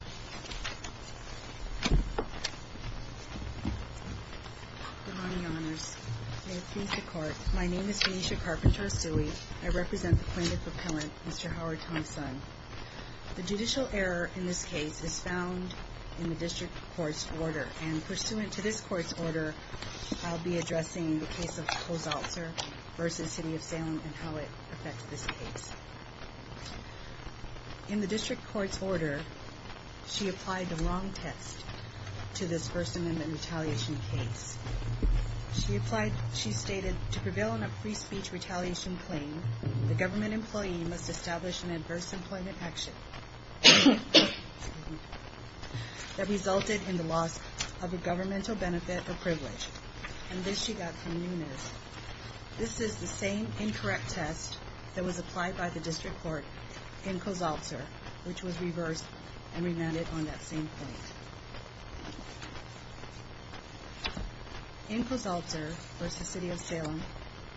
Good morning, Your Honors. May it please the Court, my name is Venetia Carpenter Asui. I represent the plaintiff appellant, Mr. Howard Thompson. The judicial error in this case is found in the district court's order, and pursuant to this court's order, I'll be addressing the case of Kozaltzer v. City of Salem and how it affects this case. In the district court's order, she applied the wrong test to this person in the retaliation case. She stated, to prevail in a free speech retaliation claim, the government employee must establish an adverse employment action that resulted in the loss of a governmental benefit or privilege. And this she got from Nunes. This is the same incorrect test that was applied by the district court in Kozaltzer, which was reversed and remanded on that same point. In Kozaltzer v. City of Salem,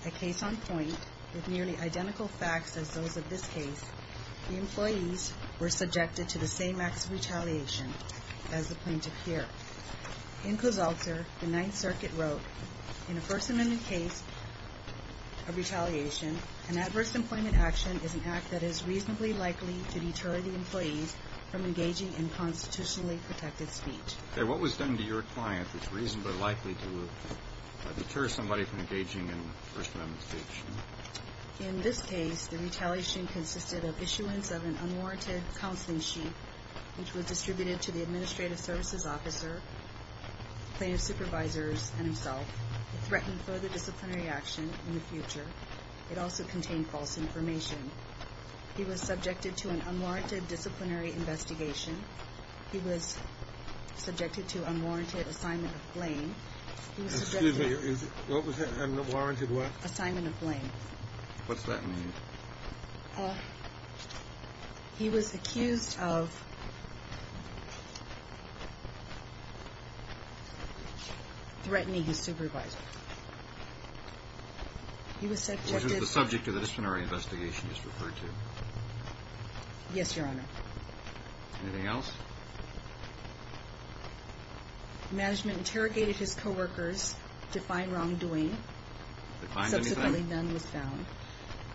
a case on point, with nearly identical facts as those of this case, the employees were subjected to the same acts of retaliation as the plaintiff here. In Kozaltzer, the Ninth Circuit wrote, in a First Amendment case of retaliation, an adverse employment action is an act that is reasonably likely to deter the employee from engaging in constitutionally protected speech. Okay, what was done to your client that's reasonably likely to deter somebody from engaging in First Amendment speech? In this case, the retaliation consisted of issuance of an unwarranted counseling sheet, which was distributed to the administrative services officer, plaintiff's supervisors, and himself. It threatened further disciplinary action in the future. It also contained false information. He was subjected to an unwarranted disciplinary investigation. He was subjected to unwarranted assignment of blame. Excuse me, what was unwarranted what? Assignment of blame. What's that mean? He was accused of threatening his supervisor. He was subjected to... Which is the subject of the disciplinary investigation you just referred to. Yes, Your Honor. Anything else? Management interrogated his coworkers to find wrongdoing. Subsequently, none was found.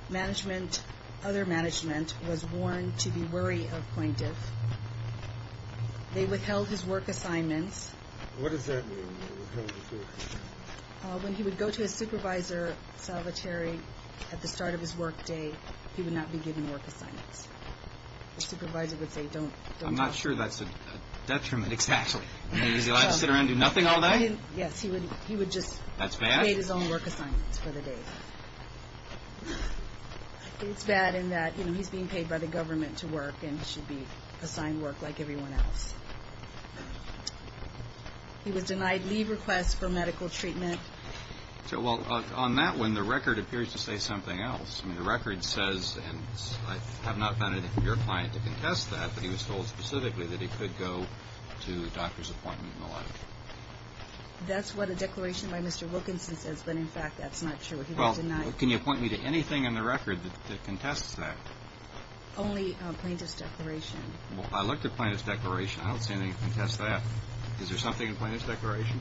Management, other management, was warned to be wary of plaintiff. They withheld his work assignments. What does that mean, withheld his work assignments? When he would go to his supervisor, Salvatore, at the start of his work day, he would not be given work assignments. The supervisor would say, don't... I'm not sure that's a detriment. Exactly. He would be allowed to sit around and do nothing all day? Yes, he would just... That's bad? He made his own work assignments for the day. It's bad in that he's being paid by the government to work, and he should be assigned work like everyone else. He was denied leave requests for medical treatment. Well, on that one, the record appears to say something else. The record says, and I have not found anything from your client to contest that, but he was told specifically that he could go to a doctor's appointment in the lab. That's what a declaration by Mr. Wilkinson says, but, in fact, that's not true. He was denied... Can you point me to anything in the record that contests that? Only a plaintiff's declaration. I looked at a plaintiff's declaration. I don't see anything that contests that. Is there something in a plaintiff's declaration?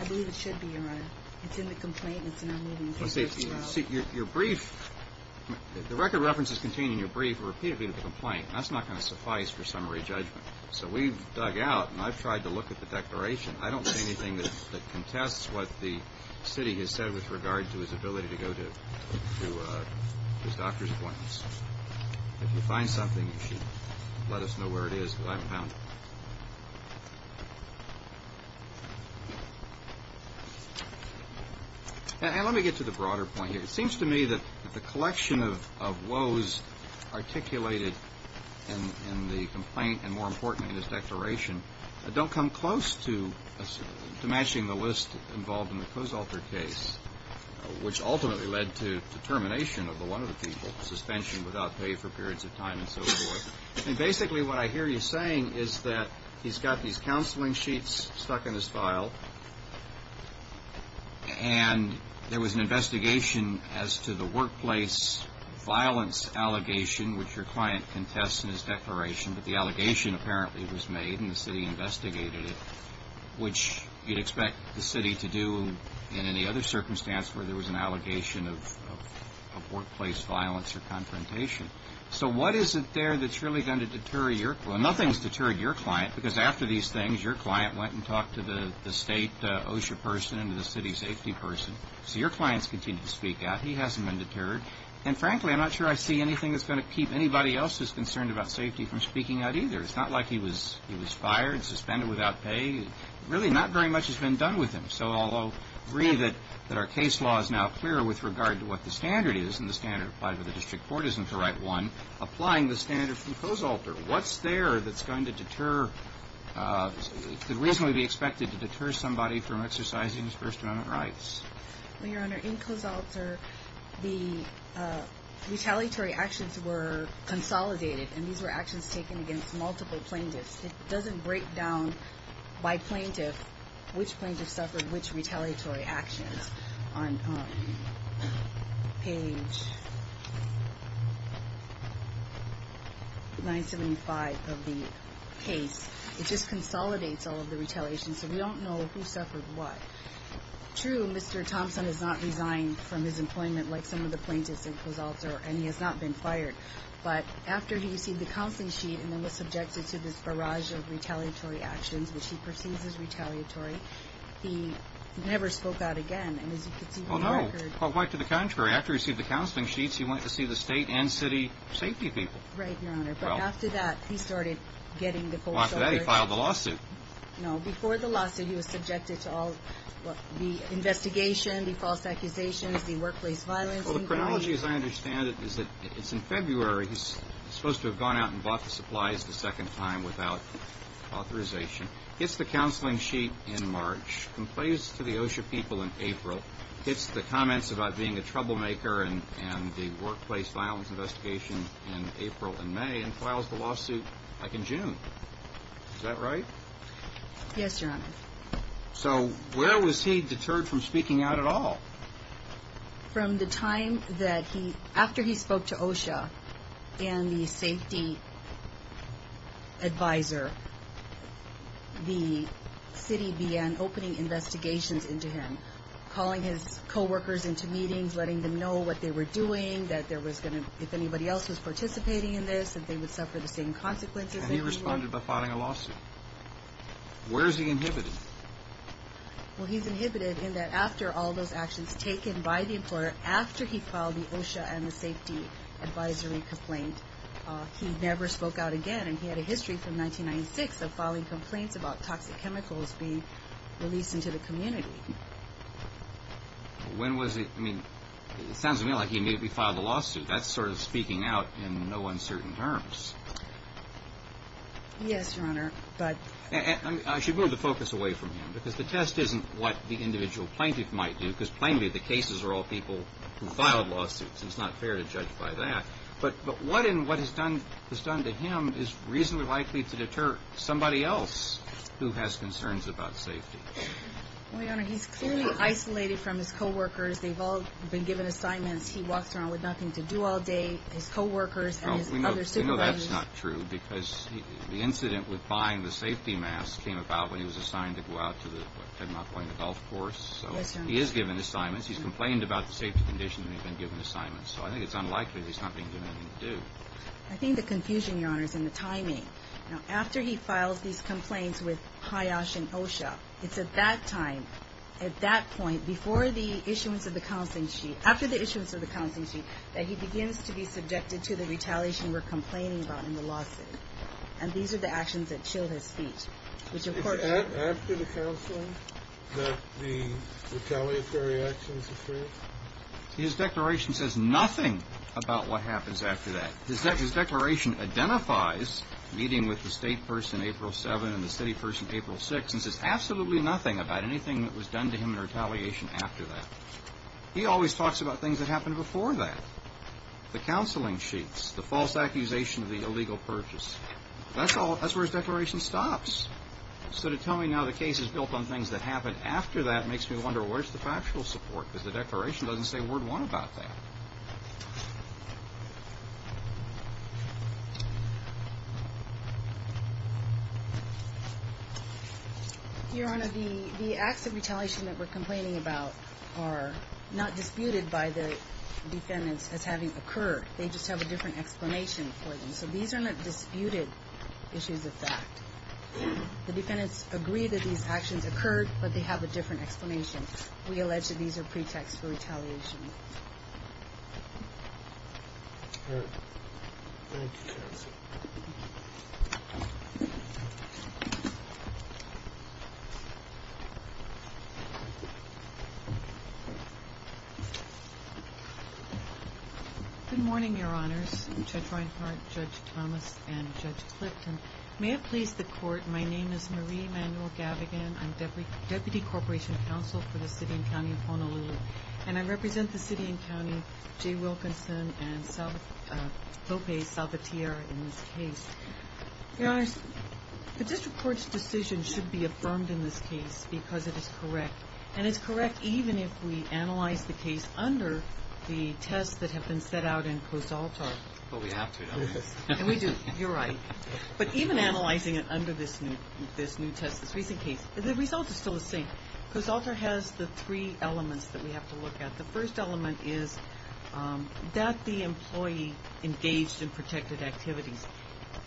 I believe it should be, Your Honor. It's in the complaint, and it's not moving. Well, see, your brief, the record references contained in your brief are repeatedly in the complaint. That's not going to suffice for summary judgment. So we've dug out, and I've tried to look at the declaration. I don't see anything that contests what the city has said with regard to his ability to go to his doctor's appointments. If you find something, you should let us know where it is because I haven't found it. And let me get to the broader point here. It seems to me that the collection of woes articulated in the complaint, and, more importantly, in his declaration, don't come close to matching the list involved in the Cozalter case, which ultimately led to the termination of the one-of-a-kind suspension without pay for periods of time and so forth. And, basically, what I hear you saying is that he's got these counseling sheets stuck in his file, and there was an investigation as to the workplace violence allegation, which your client contests in his declaration, but the allegation apparently was made, and the city investigated it, which you'd expect the city to do in any other circumstance where there was an allegation of workplace violence or confrontation. So what is it there that's really going to deter your client? Nothing's deterred your client because, after these things, your client went and talked to the state OSHA person and to the city safety person. So your client's continued to speak out. He hasn't been deterred. And, frankly, I'm not sure I see anything that's going to keep anybody else who's concerned about safety from speaking out either. It's not like he was fired, suspended without pay. Really, not very much has been done with him. So I'll agree that our case law is now clearer with regard to what the standard is, and the standard applied by the district court isn't the right one. Applying the standard from Cozalter, what's there that's going to deter – could reasonably be expected to deter somebody from exercising his First Amendment rights? Well, Your Honor, in Cozalter, the retaliatory actions were consolidated, and these were actions taken against multiple plaintiffs. It doesn't break down by plaintiff which plaintiff suffered which retaliatory actions. On page 975 of the case, it just consolidates all of the retaliations, so we don't know who suffered what. True, Mr. Thompson has not resigned from his employment like some of the plaintiffs in Cozalter, and he has not been fired. But after he received the counseling sheet and then was subjected to this barrage of retaliatory actions, which he perceives as retaliatory, he never spoke out again. And as you can see from the record – Well, no, quite to the contrary. After he received the counseling sheets, he went to see the state and city safety people. Right, Your Honor. But after that, he started getting the Cozalter – Well, after that, he filed the lawsuit. No, before the lawsuit, he was subjected to all the investigation, the false accusations, the workplace violence. Well, the chronology, as I understand it, is that it's in February. He's supposed to have gone out and bought the supplies the second time without authorization, gets the counseling sheet in March, complains to the OSHA people in April, gets the comments about being a troublemaker and the workplace violence investigation in April and May, and files the lawsuit back in June. Is that right? Yes, Your Honor. So where was he deterred from speaking out at all? From the time that he – after he spoke to OSHA and the safety advisor, the city began opening investigations into him, calling his coworkers into meetings, letting them know what they were doing, that there was going to – if anybody else was participating in this, that they would suffer the same consequences. And he responded by filing a lawsuit. Where is he inhibited? Well, he's inhibited in that after all those actions taken by the employer, after he filed the OSHA and the safety advisory complaint, he never spoke out again. And he had a history from 1996 of filing complaints about toxic chemicals being released into the community. When was he – I mean, it sounds to me like he immediately filed the lawsuit. That's sort of speaking out in no uncertain terms. Yes, Your Honor, but – I should move the focus away from him because the test isn't what the individual plaintiff might do because, plainly, the cases are all people who filed lawsuits. It's not fair to judge by that. But what and what is done to him is reasonably likely to deter somebody else who has concerns about safety. Well, Your Honor, he's clearly isolated from his coworkers. They've all been given assignments. He walks around with nothing to do all day, his coworkers and his other supervisors. That's not true because the incident with buying the safety mask came about when he was assigned to go out to the – Ted Mock went to the golf course. Yes, Your Honor. So he is given assignments. He's complained about the safety conditions and he's been given assignments. So I think it's unlikely that he's not being given anything to do. I think the confusion, Your Honor, is in the timing. Now, after he files these complaints with HIOSH and OSHA, it's at that time, at that point, before the issuance of the counseling sheet, after the issuance of the counseling sheet, that he begins to be subjected to the retaliation we're complaining about in the lawsuit. And these are the actions that chill his feet, which, of course – Is it after the counseling that the retaliatory actions occur? His declaration says nothing about what happens after that. His declaration identifies meeting with the state person April 7 and the city person April 6 and says absolutely nothing about anything that was done to him in retaliation after that. He always talks about things that happened before that, the counseling sheets, the false accusation of the illegal purchase. That's where his declaration stops. So to tell me now the case is built on things that happened after that makes me wonder, where's the factual support? Because the declaration doesn't say word one about that. Your Honor, the acts of retaliation that we're complaining about are not disputed by the defendants as having occurred. They just have a different explanation for them. So these are not disputed issues of fact. The defendants agree that these actions occurred, but they have a different explanation. We allege that these are pretexts for retaliation. All right. Thank you, Judge. Good morning, Your Honors. Judge Reinhart, Judge Thomas, and Judge Clifton. May it please the Court, my name is Marie Manuel-Gavigan. I'm Deputy Corporation Counsel for the City and County of Honolulu, and I represent the city and county, Jay Wilkinson and Lopez Salvatier in this case. Your Honors, the district court's decision should be affirmed in this case because it is correct. And it's correct even if we analyze the case under the tests that have been set out in Cozaltar. But we have to, don't we? And we do. You're right. But even analyzing it under this new test, this recent case, the results are still the same. Cozaltar has the three elements that we have to look at. The first element is that the employee engaged in protected activities.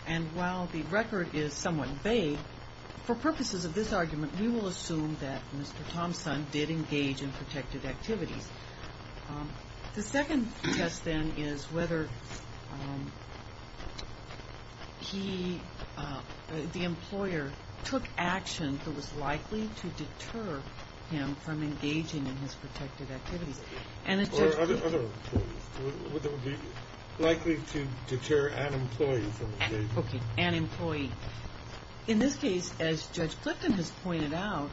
And while the record is somewhat vague, for purposes of this argument, we will assume that Mr. Thompson did engage in protected activities. The second test, then, is whether he, the employer, took action that was likely to deter him from engaging in his protected activities. Or other employees. Whether it would be likely to deter an employee from engaging. Okay, an employee. In this case, as Judge Clifton has pointed out,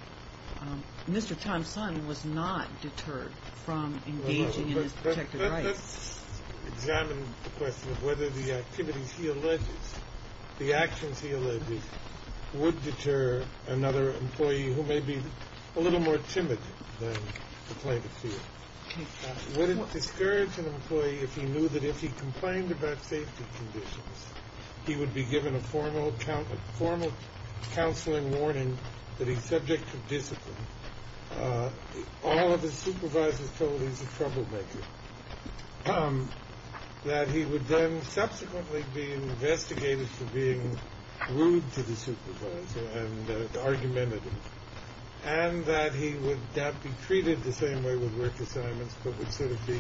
Mr. Thompson was not deterred from engaging in his protected rights. Let's examine the question of whether the activities he alleges, the actions he alleges, would deter another employee who may be a little more timid than the plaintiff feels. Would it discourage an employee if he knew that if he complained about safety conditions, he would be given a formal counseling warning that he's subject to discipline. All of his supervisors told him he's a troublemaker. That he would then subsequently be investigated for being rude to the supervisor and argumentative. And that he would not be treated the same way with work assignments, but would sort of be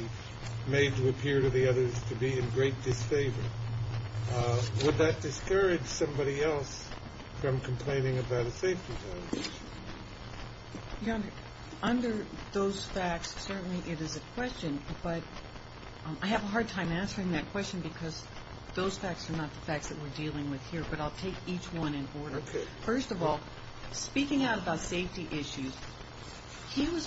made to appear to the others to be in great disfavor. Would that discourage somebody else from complaining about a safety violation? Under those facts, certainly it is a question. But I have a hard time answering that question because those facts are not the facts that we're dealing with here. But I'll take each one in order. First of all, speaking out about safety issues, he was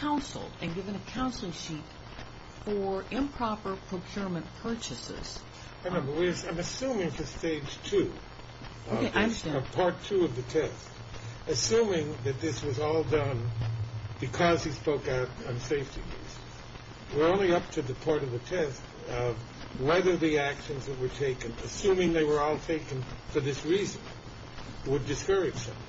counseled and given a counseling sheet for improper procurement purchases. I'm assuming for stage two, part two of the test, assuming that this was all done because he spoke out on safety issues. We're only up to the part of the test of whether the actions that were taken, assuming they were all taken for this reason, would discourage somebody.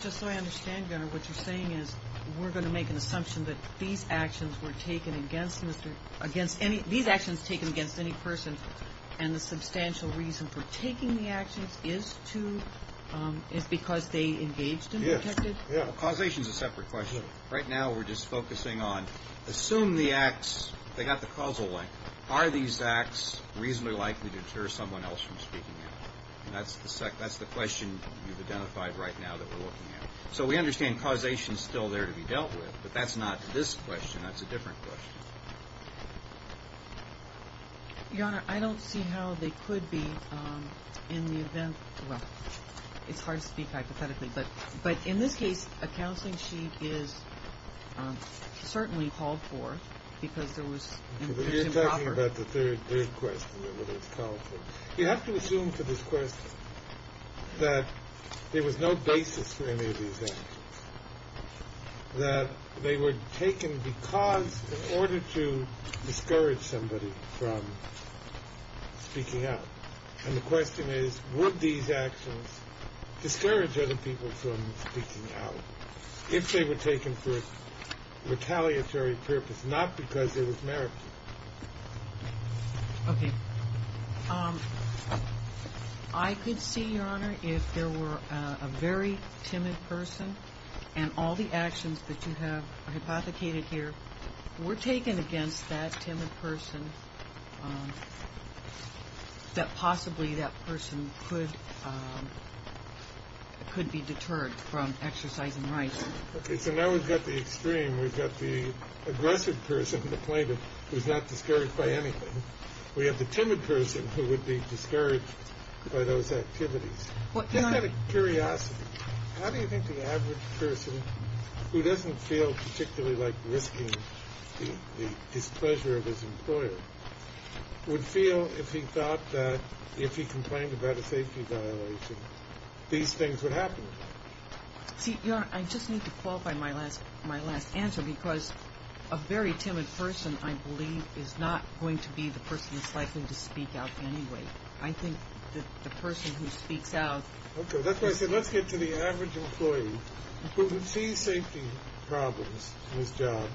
Just so I understand, Your Honor, what you're saying is we're going to make an assumption that these actions were taken against Mr. – against any – these actions taken against any person, and the substantial reason for taking the actions is to – is because they engaged him or protected him? Yes. Yeah. Well, causation is a separate question. Right now we're just focusing on assume the acts – they got the causal link. Are these acts reasonably likely to deter someone else from speaking out? And that's the question you've identified right now that we're looking at. So we understand causation is still there to be dealt with, but that's not this question. That's a different question. Your Honor, I don't see how they could be in the event – well, it's hard to speak hypothetically, but in this case a counseling sheet is certainly called for because there was improper – You're talking about the third question, whether it's called for. You have to assume for this question that there was no basis for any of these actions, that they were taken because – in order to discourage somebody from speaking out. And the question is, would these actions discourage other people from speaking out if they were taken for a retaliatory purpose, not because there was merit to it? Okay. I could see, Your Honor, if there were a very timid person, and all the actions that you have hypothecated here were taken against that timid person, that possibly that person could be deterred from exercising rights. Okay. So now we've got the extreme. We've got the aggressive person, the plaintiff, who's not discouraged by anything. We have the timid person who would be discouraged by those activities. Just out of curiosity, how do you think the average person who doesn't feel particularly like risking the displeasure of his employer would feel if he thought that if he complained about a safety violation these things would happen? See, Your Honor, I just need to qualify my last answer because a very timid person, I believe, is not going to be the person that's likely to speak out anyway. I think that the person who speaks out – he sees safety problems in his job,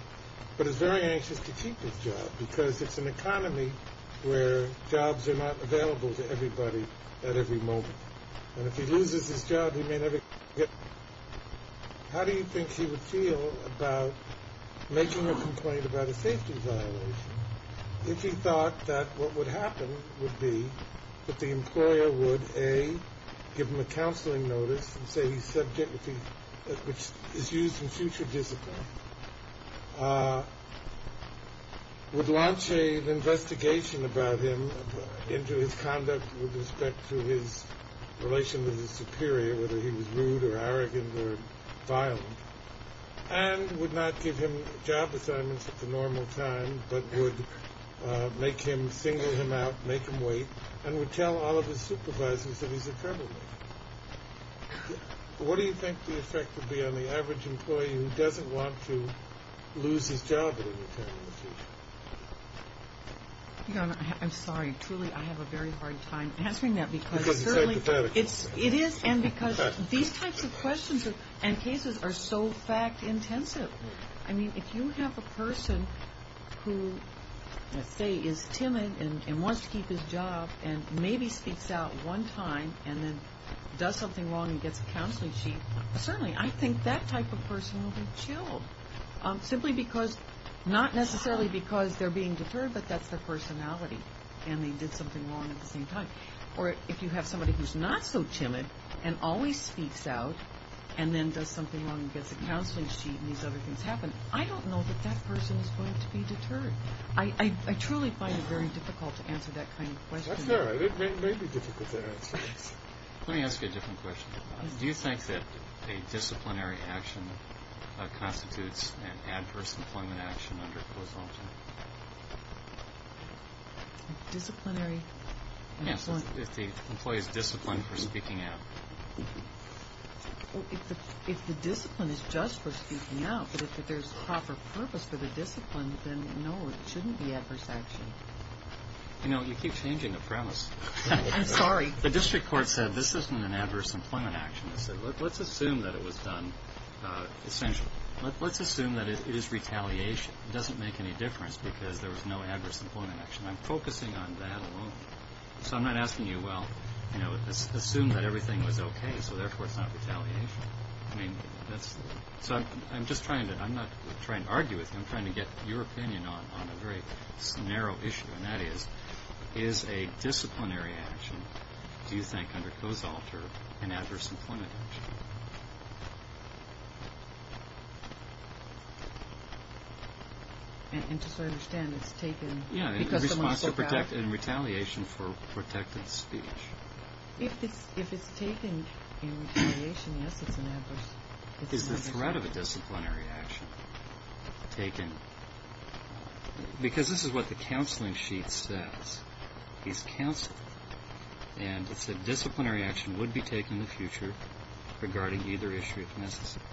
but is very anxious to keep his job because it's an economy where jobs are not available to everybody at every moment. And if he loses his job, he may never get it. How do you think he would feel about making a complaint about a safety violation if he thought that what would happen would be that the employer would, A, give him a counseling notice, which is used in future discipline, would launch an investigation about him into his conduct with respect to his relation with his superior, whether he was rude or arrogant or violent, and would not give him job assignments at the normal time, but would make him single him out, make him wait, and would tell all of his supervisors that he's a criminal. What do you think the effect would be on the average employee who doesn't want to lose his job at any time in the future? Your Honor, I'm sorry. Truly, I have a very hard time answering that. Because it's hypothetical. It is, and because these types of questions and cases are so fact-intensive. I mean, if you have a person who, let's say, is timid and wants to keep his job and maybe speaks out one time and then does something wrong and gets a counseling sheet, certainly I think that type of person will be chilled. Simply because, not necessarily because they're being deterred, but that's their personality and they did something wrong at the same time. Or if you have somebody who's not so timid and always speaks out and then does something wrong and gets a counseling sheet and these other things happen, I don't know that that person is going to be deterred. I truly find it very difficult to answer that kind of question. That's all right. It may be difficult to answer. Let me ask you a different question. Do you think that a disciplinary action constitutes an adverse employment action under COSALTA? Disciplinary? Yes, if the employee is disciplined for speaking out. If the discipline is just for speaking out, but if there's proper purpose for the discipline, then no, it shouldn't be adverse action. You know, you keep changing the premise. I'm sorry. The district court said this isn't an adverse employment action. It said, let's assume that it was done, essentially. Let's assume that it is retaliation. It doesn't make any difference because there was no adverse employment action. I'm focusing on that alone. So I'm not asking you, well, you know, assume that everything was okay, so therefore it's not retaliation. I mean, that's – so I'm just trying to – I'm not trying to argue with you. I'm trying to get your opinion on a very narrow issue, and that is, is a disciplinary action, do you think, under COSALTA an adverse employment action? And just so I understand, it's taken because someone's so proud. Yeah, in retaliation for protected speech. If it's taken in retaliation, yes, it's an adverse. Is the threat of a disciplinary action taken – because this is what the counseling sheet says. He's counseled, and it said disciplinary action would be taken in the future regarding either issue, if necessary.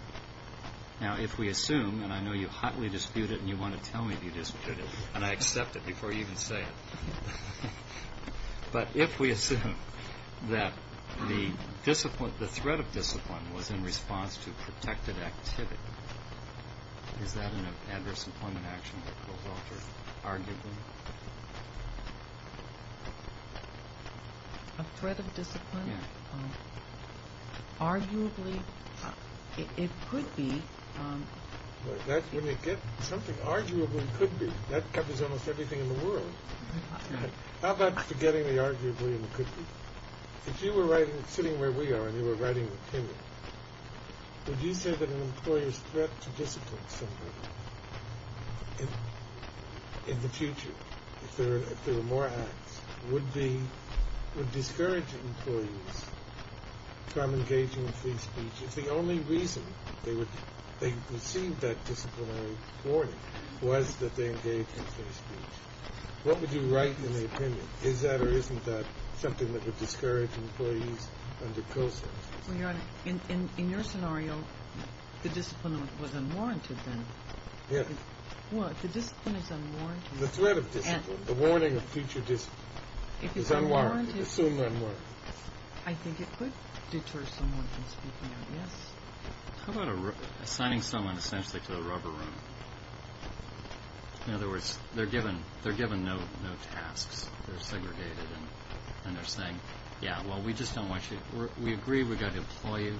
Now, if we assume, and I know you hotly dispute it and you want to tell me if you dispute it, and I accept it before you even say it, but if we assume that the threat of discipline was in response to protected activity, is that an adverse employment action that COSALTA arguably? A threat of discipline? Yeah. Arguably, it could be. When you get something arguably could be, that covers almost everything in the world. How about forgetting the arguably and could be? If you were sitting where we are and you were writing an opinion, would you say that an employer's threat to discipline in the future, if there were more acts, would discourage employees from engaging in free speech if the only reason they received that disciplinary warning was that they engaged in free speech? What would you write in the opinion? Is that or isn't that something that would discourage employees under COSALTA? Well, Your Honor, in your scenario, the discipline was unwarranted then. Yeah. Well, if the discipline is unwarranted. The threat of discipline, the warning of future discipline is unwarranted, assumed unwarranted. I think it could deter someone from speaking out, yes. How about assigning someone essentially to the rubber room? In other words, they're given no tasks. They're segregated and they're saying, yeah, well, we just don't want you. We agree we've got to employ you,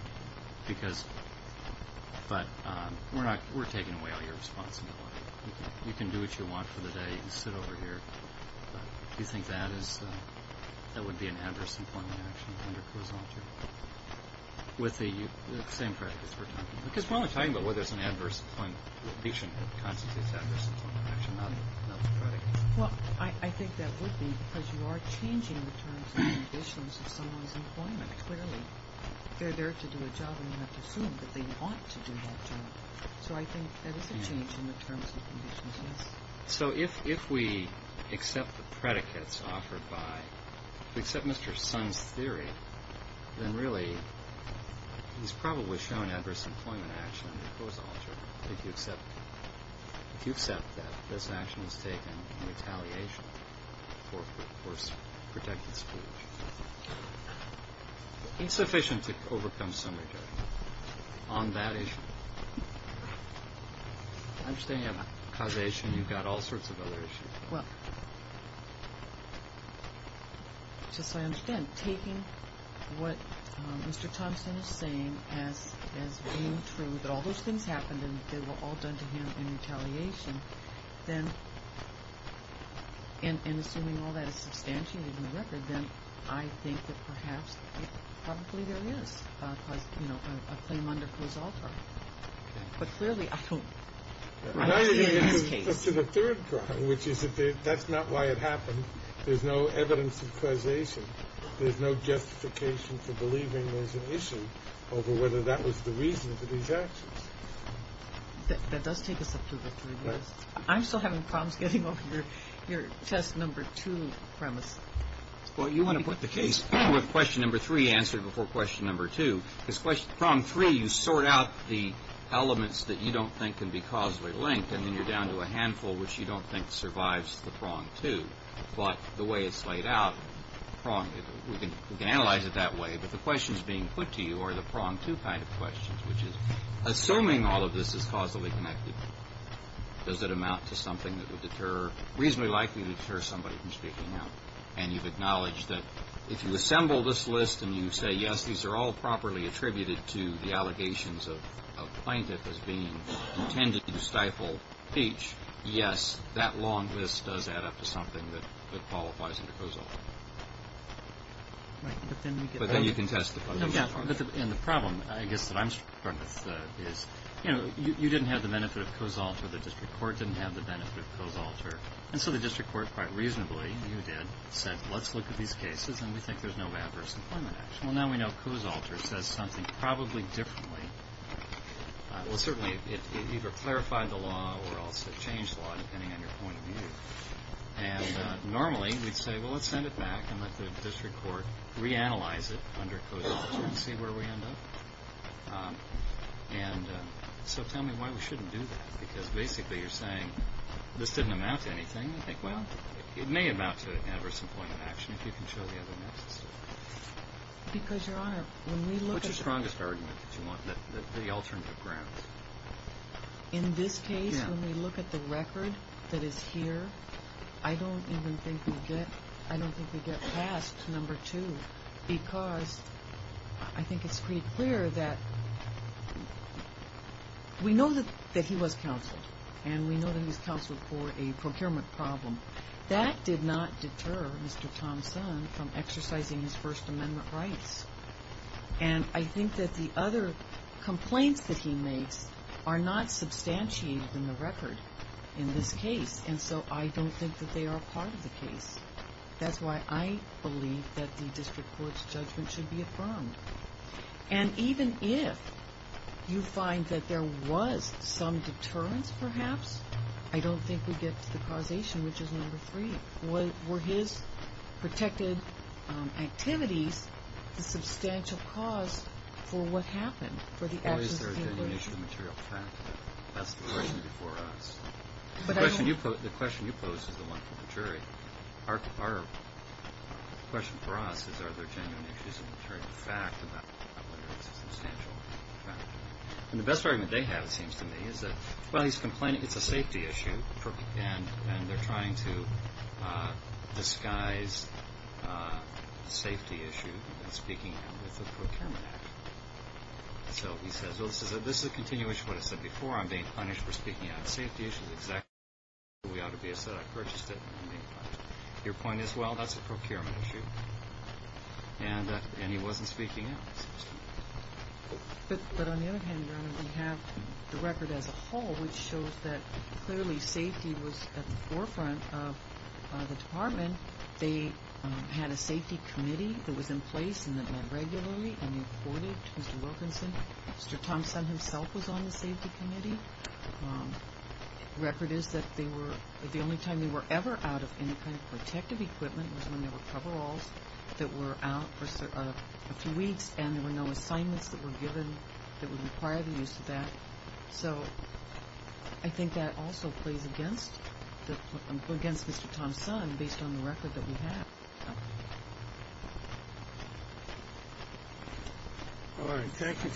but we're taking away all your responsibility. You can do what you want for the day and sit over here. Do you think that would be an adverse employment action under COSALTA? With the same predicates we're talking about. Because we're only talking about whether it's an adverse employment action. It constitutes adverse employment action, not the predicates. Well, I think that would be because you are changing the terms and conditions of someone's employment, clearly. They're there to do a job and you have to assume that they want to do that job. So I think that is a change in the terms and conditions, yes. So if we accept the predicates offered by, accept Mr. Sun's theory, then really he's probably shown adverse employment action under COSALTA. If you accept that, this action is taken in retaliation for protected school issues. Insufficient to overcome some retardation on that issue. I understand you have causation, you've got all sorts of other issues. Well, just so I understand, then taking what Mr. Thompson is saying as being true, that all those things happened and they were all done to him in retaliation, then, and assuming all that is substantiated in the record, then I think that perhaps, probably there is a claim under COSALTA. But clearly, I don't see it in this case. That's not why it happened. There's no evidence of causation. There's no justification for believing there's an issue over whether that was the reason for these actions. That does take us up to the three minutes. I'm still having problems getting over your test number two premise. Well, you want to put the case with question number three answered before question number two. Because problem three, you sort out the elements that you don't think can be causally linked and then you're down to a handful which you don't think survives the prong two. But the way it's laid out, we can analyze it that way, but the questions being put to you are the prong two kind of questions, which is, assuming all of this is causally connected, does it amount to something that would deter, reasonably likely deter somebody from speaking out? And you've acknowledged that if you assemble this list and you say, yes, these are all properly attributed to the allegations of a plaintiff as being intended to stifle speech, yes, that long list does add up to something that qualifies under COSALT. But then you can test the punishment. And the problem, I guess, that I'm struck with is, you know, you didn't have the benefit of COSALT or the district court didn't have the benefit of COSALT. And so the district court, quite reasonably, you did, said, let's look at these cases and we think there's no adverse employment action. Well, now we know COSALT says something probably differently. Well, certainly it either clarified the law or also changed the law, depending on your point of view. And normally we'd say, well, let's send it back and let the district court reanalyze it under COSALT and see where we end up. And so tell me why we shouldn't do that. Because basically you're saying this didn't amount to anything. Well, it may amount to an adverse employment action if you can show the evidence. Because, Your Honor, when we look at it. What's your strongest argument that you want, the alternative grounds? In this case, when we look at the record that is here, I don't even think we get past number two because I think it's pretty clear that we know that he was counseled for a procurement problem. That did not deter Mr. Thompson from exercising his First Amendment rights. And I think that the other complaints that he makes are not substantiated in the record in this case. And so I don't think that they are part of the case. That's why I believe that the district court's judgment should be affirmed. And even if you find that there was some deterrence, perhaps, I don't think we get to the causation, which is number three. Were his protected activities a substantial cause for what happened, for the absence of an attorney? Or is there a genuine issue of material fact? That's the question before us. The question you posed is the one for the jury. Our question for us is, are there genuine issues of material fact about whether it's a substantial fact? And the best argument they have, it seems to me, is that, well, he's complaining it's a safety issue, and they're trying to disguise the safety issue in speaking out with the Procurement Act. So he says, well, this is a continuation of what I said before. I'm being punished for speaking out on safety issues. We ought to be assertive. I purchased it. Your point is, well, that's a procurement issue. And he wasn't speaking out, it seems to me. But on the other hand, Your Honor, we have the record as a whole, which shows that clearly safety was at the forefront of the department. They had a safety committee that was in place and that met regularly, and they reported to Mr. Wilkinson. Mr. Thompson himself was on the safety committee. The record is that the only time they were ever out of any kind of protective equipment was when there were coveralls that were out for a few weeks, and there were no assignments that were given that would require the use of that. So I think that also plays against Mr. Thompson based on the record that we have. All right. Thank you.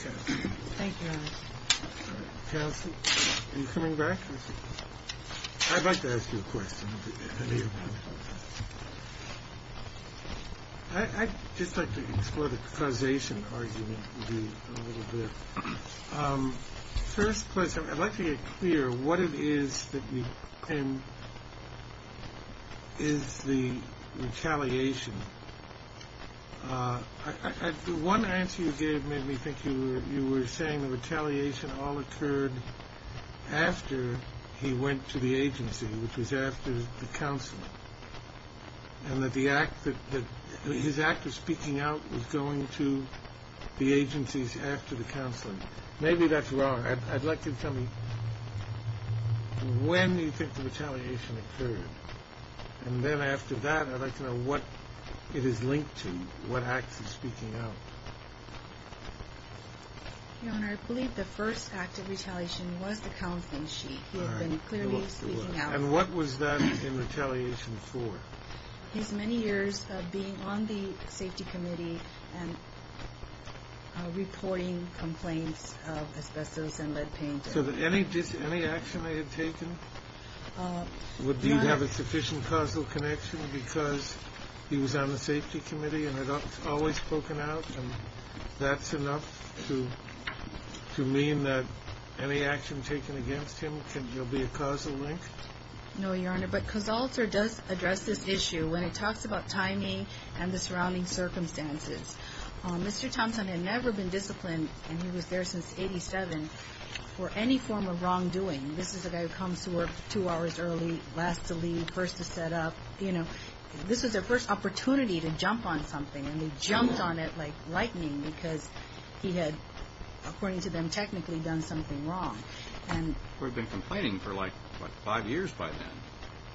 Thank you. And coming back. I'd like to ask you a question. I just like to explore the causation argument a little bit. First, I'd like to get clear what it is that you claim is the retaliation. One answer you gave made me think you were saying the retaliation all occurred after he went to the agency, which was after the counseling, and that his act of speaking out was going to the agencies after the counseling. Maybe that's wrong. I'd like you to tell me when you think the retaliation occurred, and then after that I'd like to know what it is linked to, what acts of speaking out. Your Honor, I believe the first act of retaliation was the counseling sheet. He had been clearly speaking out. And what was that in retaliation for? His many years of being on the safety committee and reporting complaints of asbestos and lead paint. So any action they had taken would have a sufficient causal connection because he was on the safety committee and had always spoken out, and that's enough to mean that any action taken against him will be a causal link? No, Your Honor, but Casalter does address this issue when it talks about timing and the surrounding circumstances. Mr. Thompson had never been disciplined, and he was there since 1987, for any form of wrongdoing. This is a guy who comes to work two hours early, last to leave, first to set up. This was their first opportunity to jump on something, and he jumped on it like lightning because he had, according to them, technically done something wrong. He would have been complaining for like five years by then.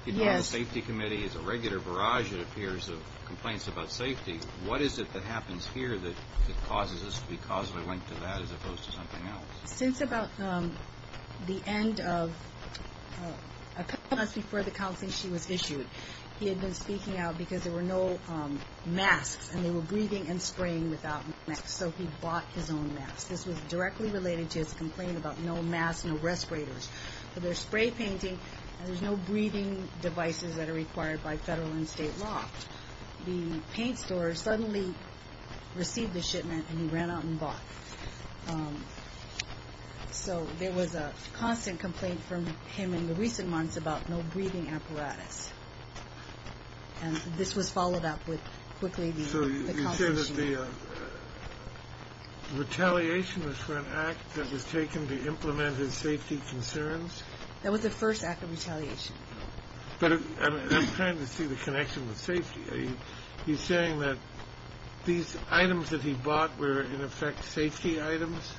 He'd been on the safety committee as a regular barrage, it appears, of complaints about safety. What is it that happens here that causes us to be causally linked to that as opposed to something else? He had been speaking out because there were no masks, and they were breathing and spraying without masks, so he bought his own mask. This was directly related to his complaint about no masks, no respirators. For their spray painting, there's no breathing devices that are required by federal and state law. The paint store suddenly received the shipment, and he ran out and bought it. So there was a constant complaint from him in the recent months about no breathing apparatus. And this was followed up with quickly the compensation. So you say that the retaliation was for an act that was taken to implement his safety concerns? That was the first act of retaliation. But I'm trying to see the connection with safety. He's saying that these items that he bought were, in effect, safety items?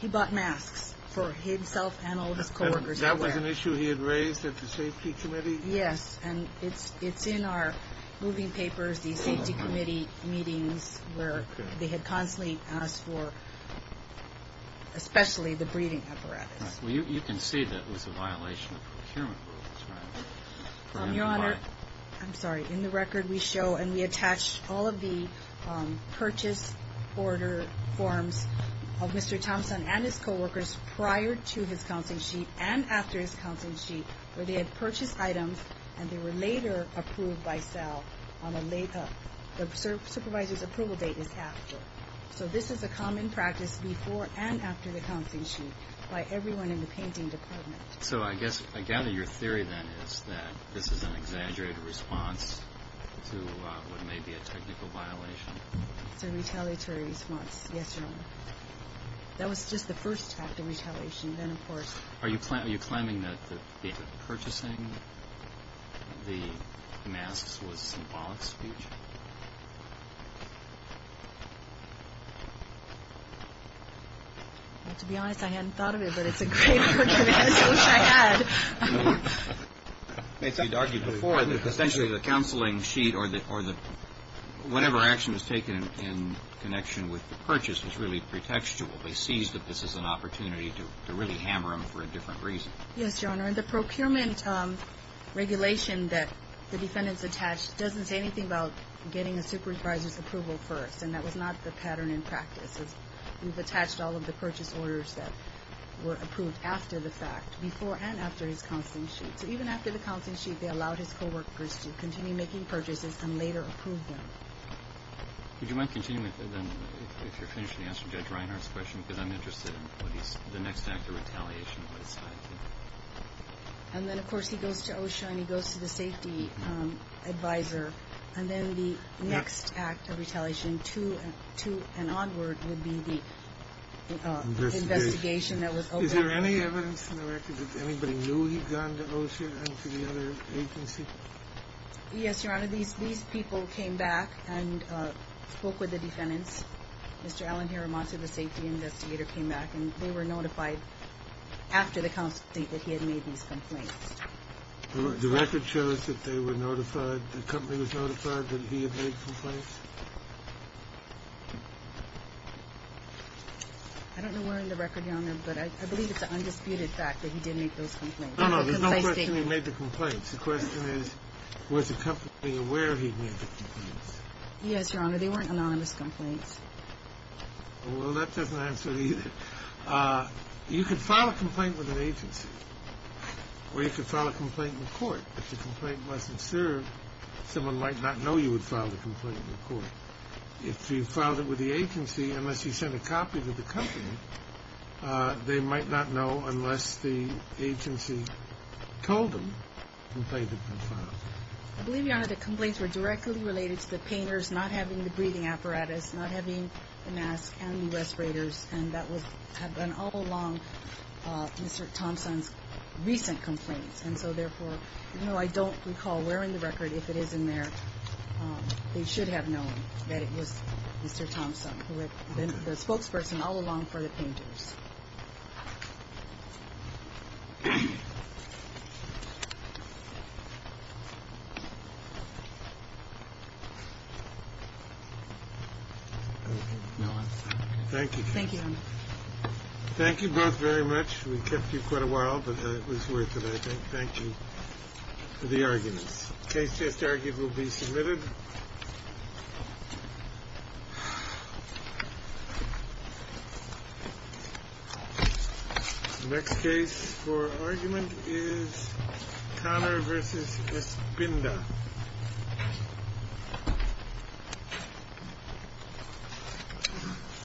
He bought masks for himself and all his co-workers. That was an issue he had raised at the safety committee? Yes, and it's in our moving papers, the safety committee meetings, where they had constantly asked for especially the breathing apparatus. Well, you can see that was a violation of procurement rules, right? Your Honor, I'm sorry. In the record we show and we attach all of the purchase order forms of Mr. Thompson and his co-workers prior to his counseling sheet and after his counseling sheet where they had purchased items and they were later approved by Sal on a layup. The supervisor's approval date is after. So this is a common practice before and after the counseling sheet by everyone in the painting department. So I guess I gather your theory then is that this is an exaggerated response to what may be a technical violation. It's a retaliatory response, yes, Your Honor. That was just the first act of retaliation. Are you claiming that the purchasing of the masks was symbolic speech? Well, to be honest, I hadn't thought of it, but it's a great argument. I wish I had. You argued before that essentially the counseling sheet or the whatever action was taken in connection with the purchase was really pretextual. They seized it. This is an opportunity to really hammer them for a different reason. Yes, Your Honor. And the procurement regulation that the defendant's attached doesn't say anything about getting a supervisor's approval first, and that was not the pattern in practice. We've attached all of the purchase orders that were approved after the fact, before and after his counseling sheet. So even after the counseling sheet, they allowed his co-workers to continue making purchases and later approve them. Would you mind continuing with it then if you're finished and answer Judge Reinhardt's question? Because I'm interested in the next act of retaliation and what it's like. And then, of course, he goes to O'Shea and he goes to the safety advisor, and then the next act of retaliation to and onward would be the investigation that was opened. Is there any evidence in the record that anybody knew he'd gone to O'Shea and to the other agency? Yes, Your Honor. These people came back and spoke with the defendants. Mr. Alan Hiramatsu, the safety investigator, came back, and they were notified after the counseling that he had made these complaints. The record shows that they were notified, the company was notified that he had made complaints? I don't know where in the record, Your Honor, but I believe it's an undisputed fact that he did make those complaints. No, no, there's no question he made the complaints. The question is, was the company aware he'd made the complaints? Yes, Your Honor. They weren't anonymous complaints. Well, that doesn't answer it either. You could file a complaint with an agency, or you could file a complaint in court. If the complaint wasn't served, someone might not know you had filed a complaint in court. If you filed it with the agency, unless you sent a copy to the company, they might not know unless the agency told them the complaint had been filed. I believe, Your Honor, the complaints were directly related to the painters not having the breathing apparatus, not having the mask and the respirators, and that had been all along Mr. Thompson's recent complaints. And so, therefore, even though I don't recall where in the record, if it is in there, they should have known that it was Mr. Thompson who had been the spokesperson all along for the painters. Thank you. Thank you, Your Honor. Thank you both very much. We kept you quite a while, but it was worth it, I think. Thank you for the arguments. Case just argued will be submitted. Next case for argument is Connor v. Espinda.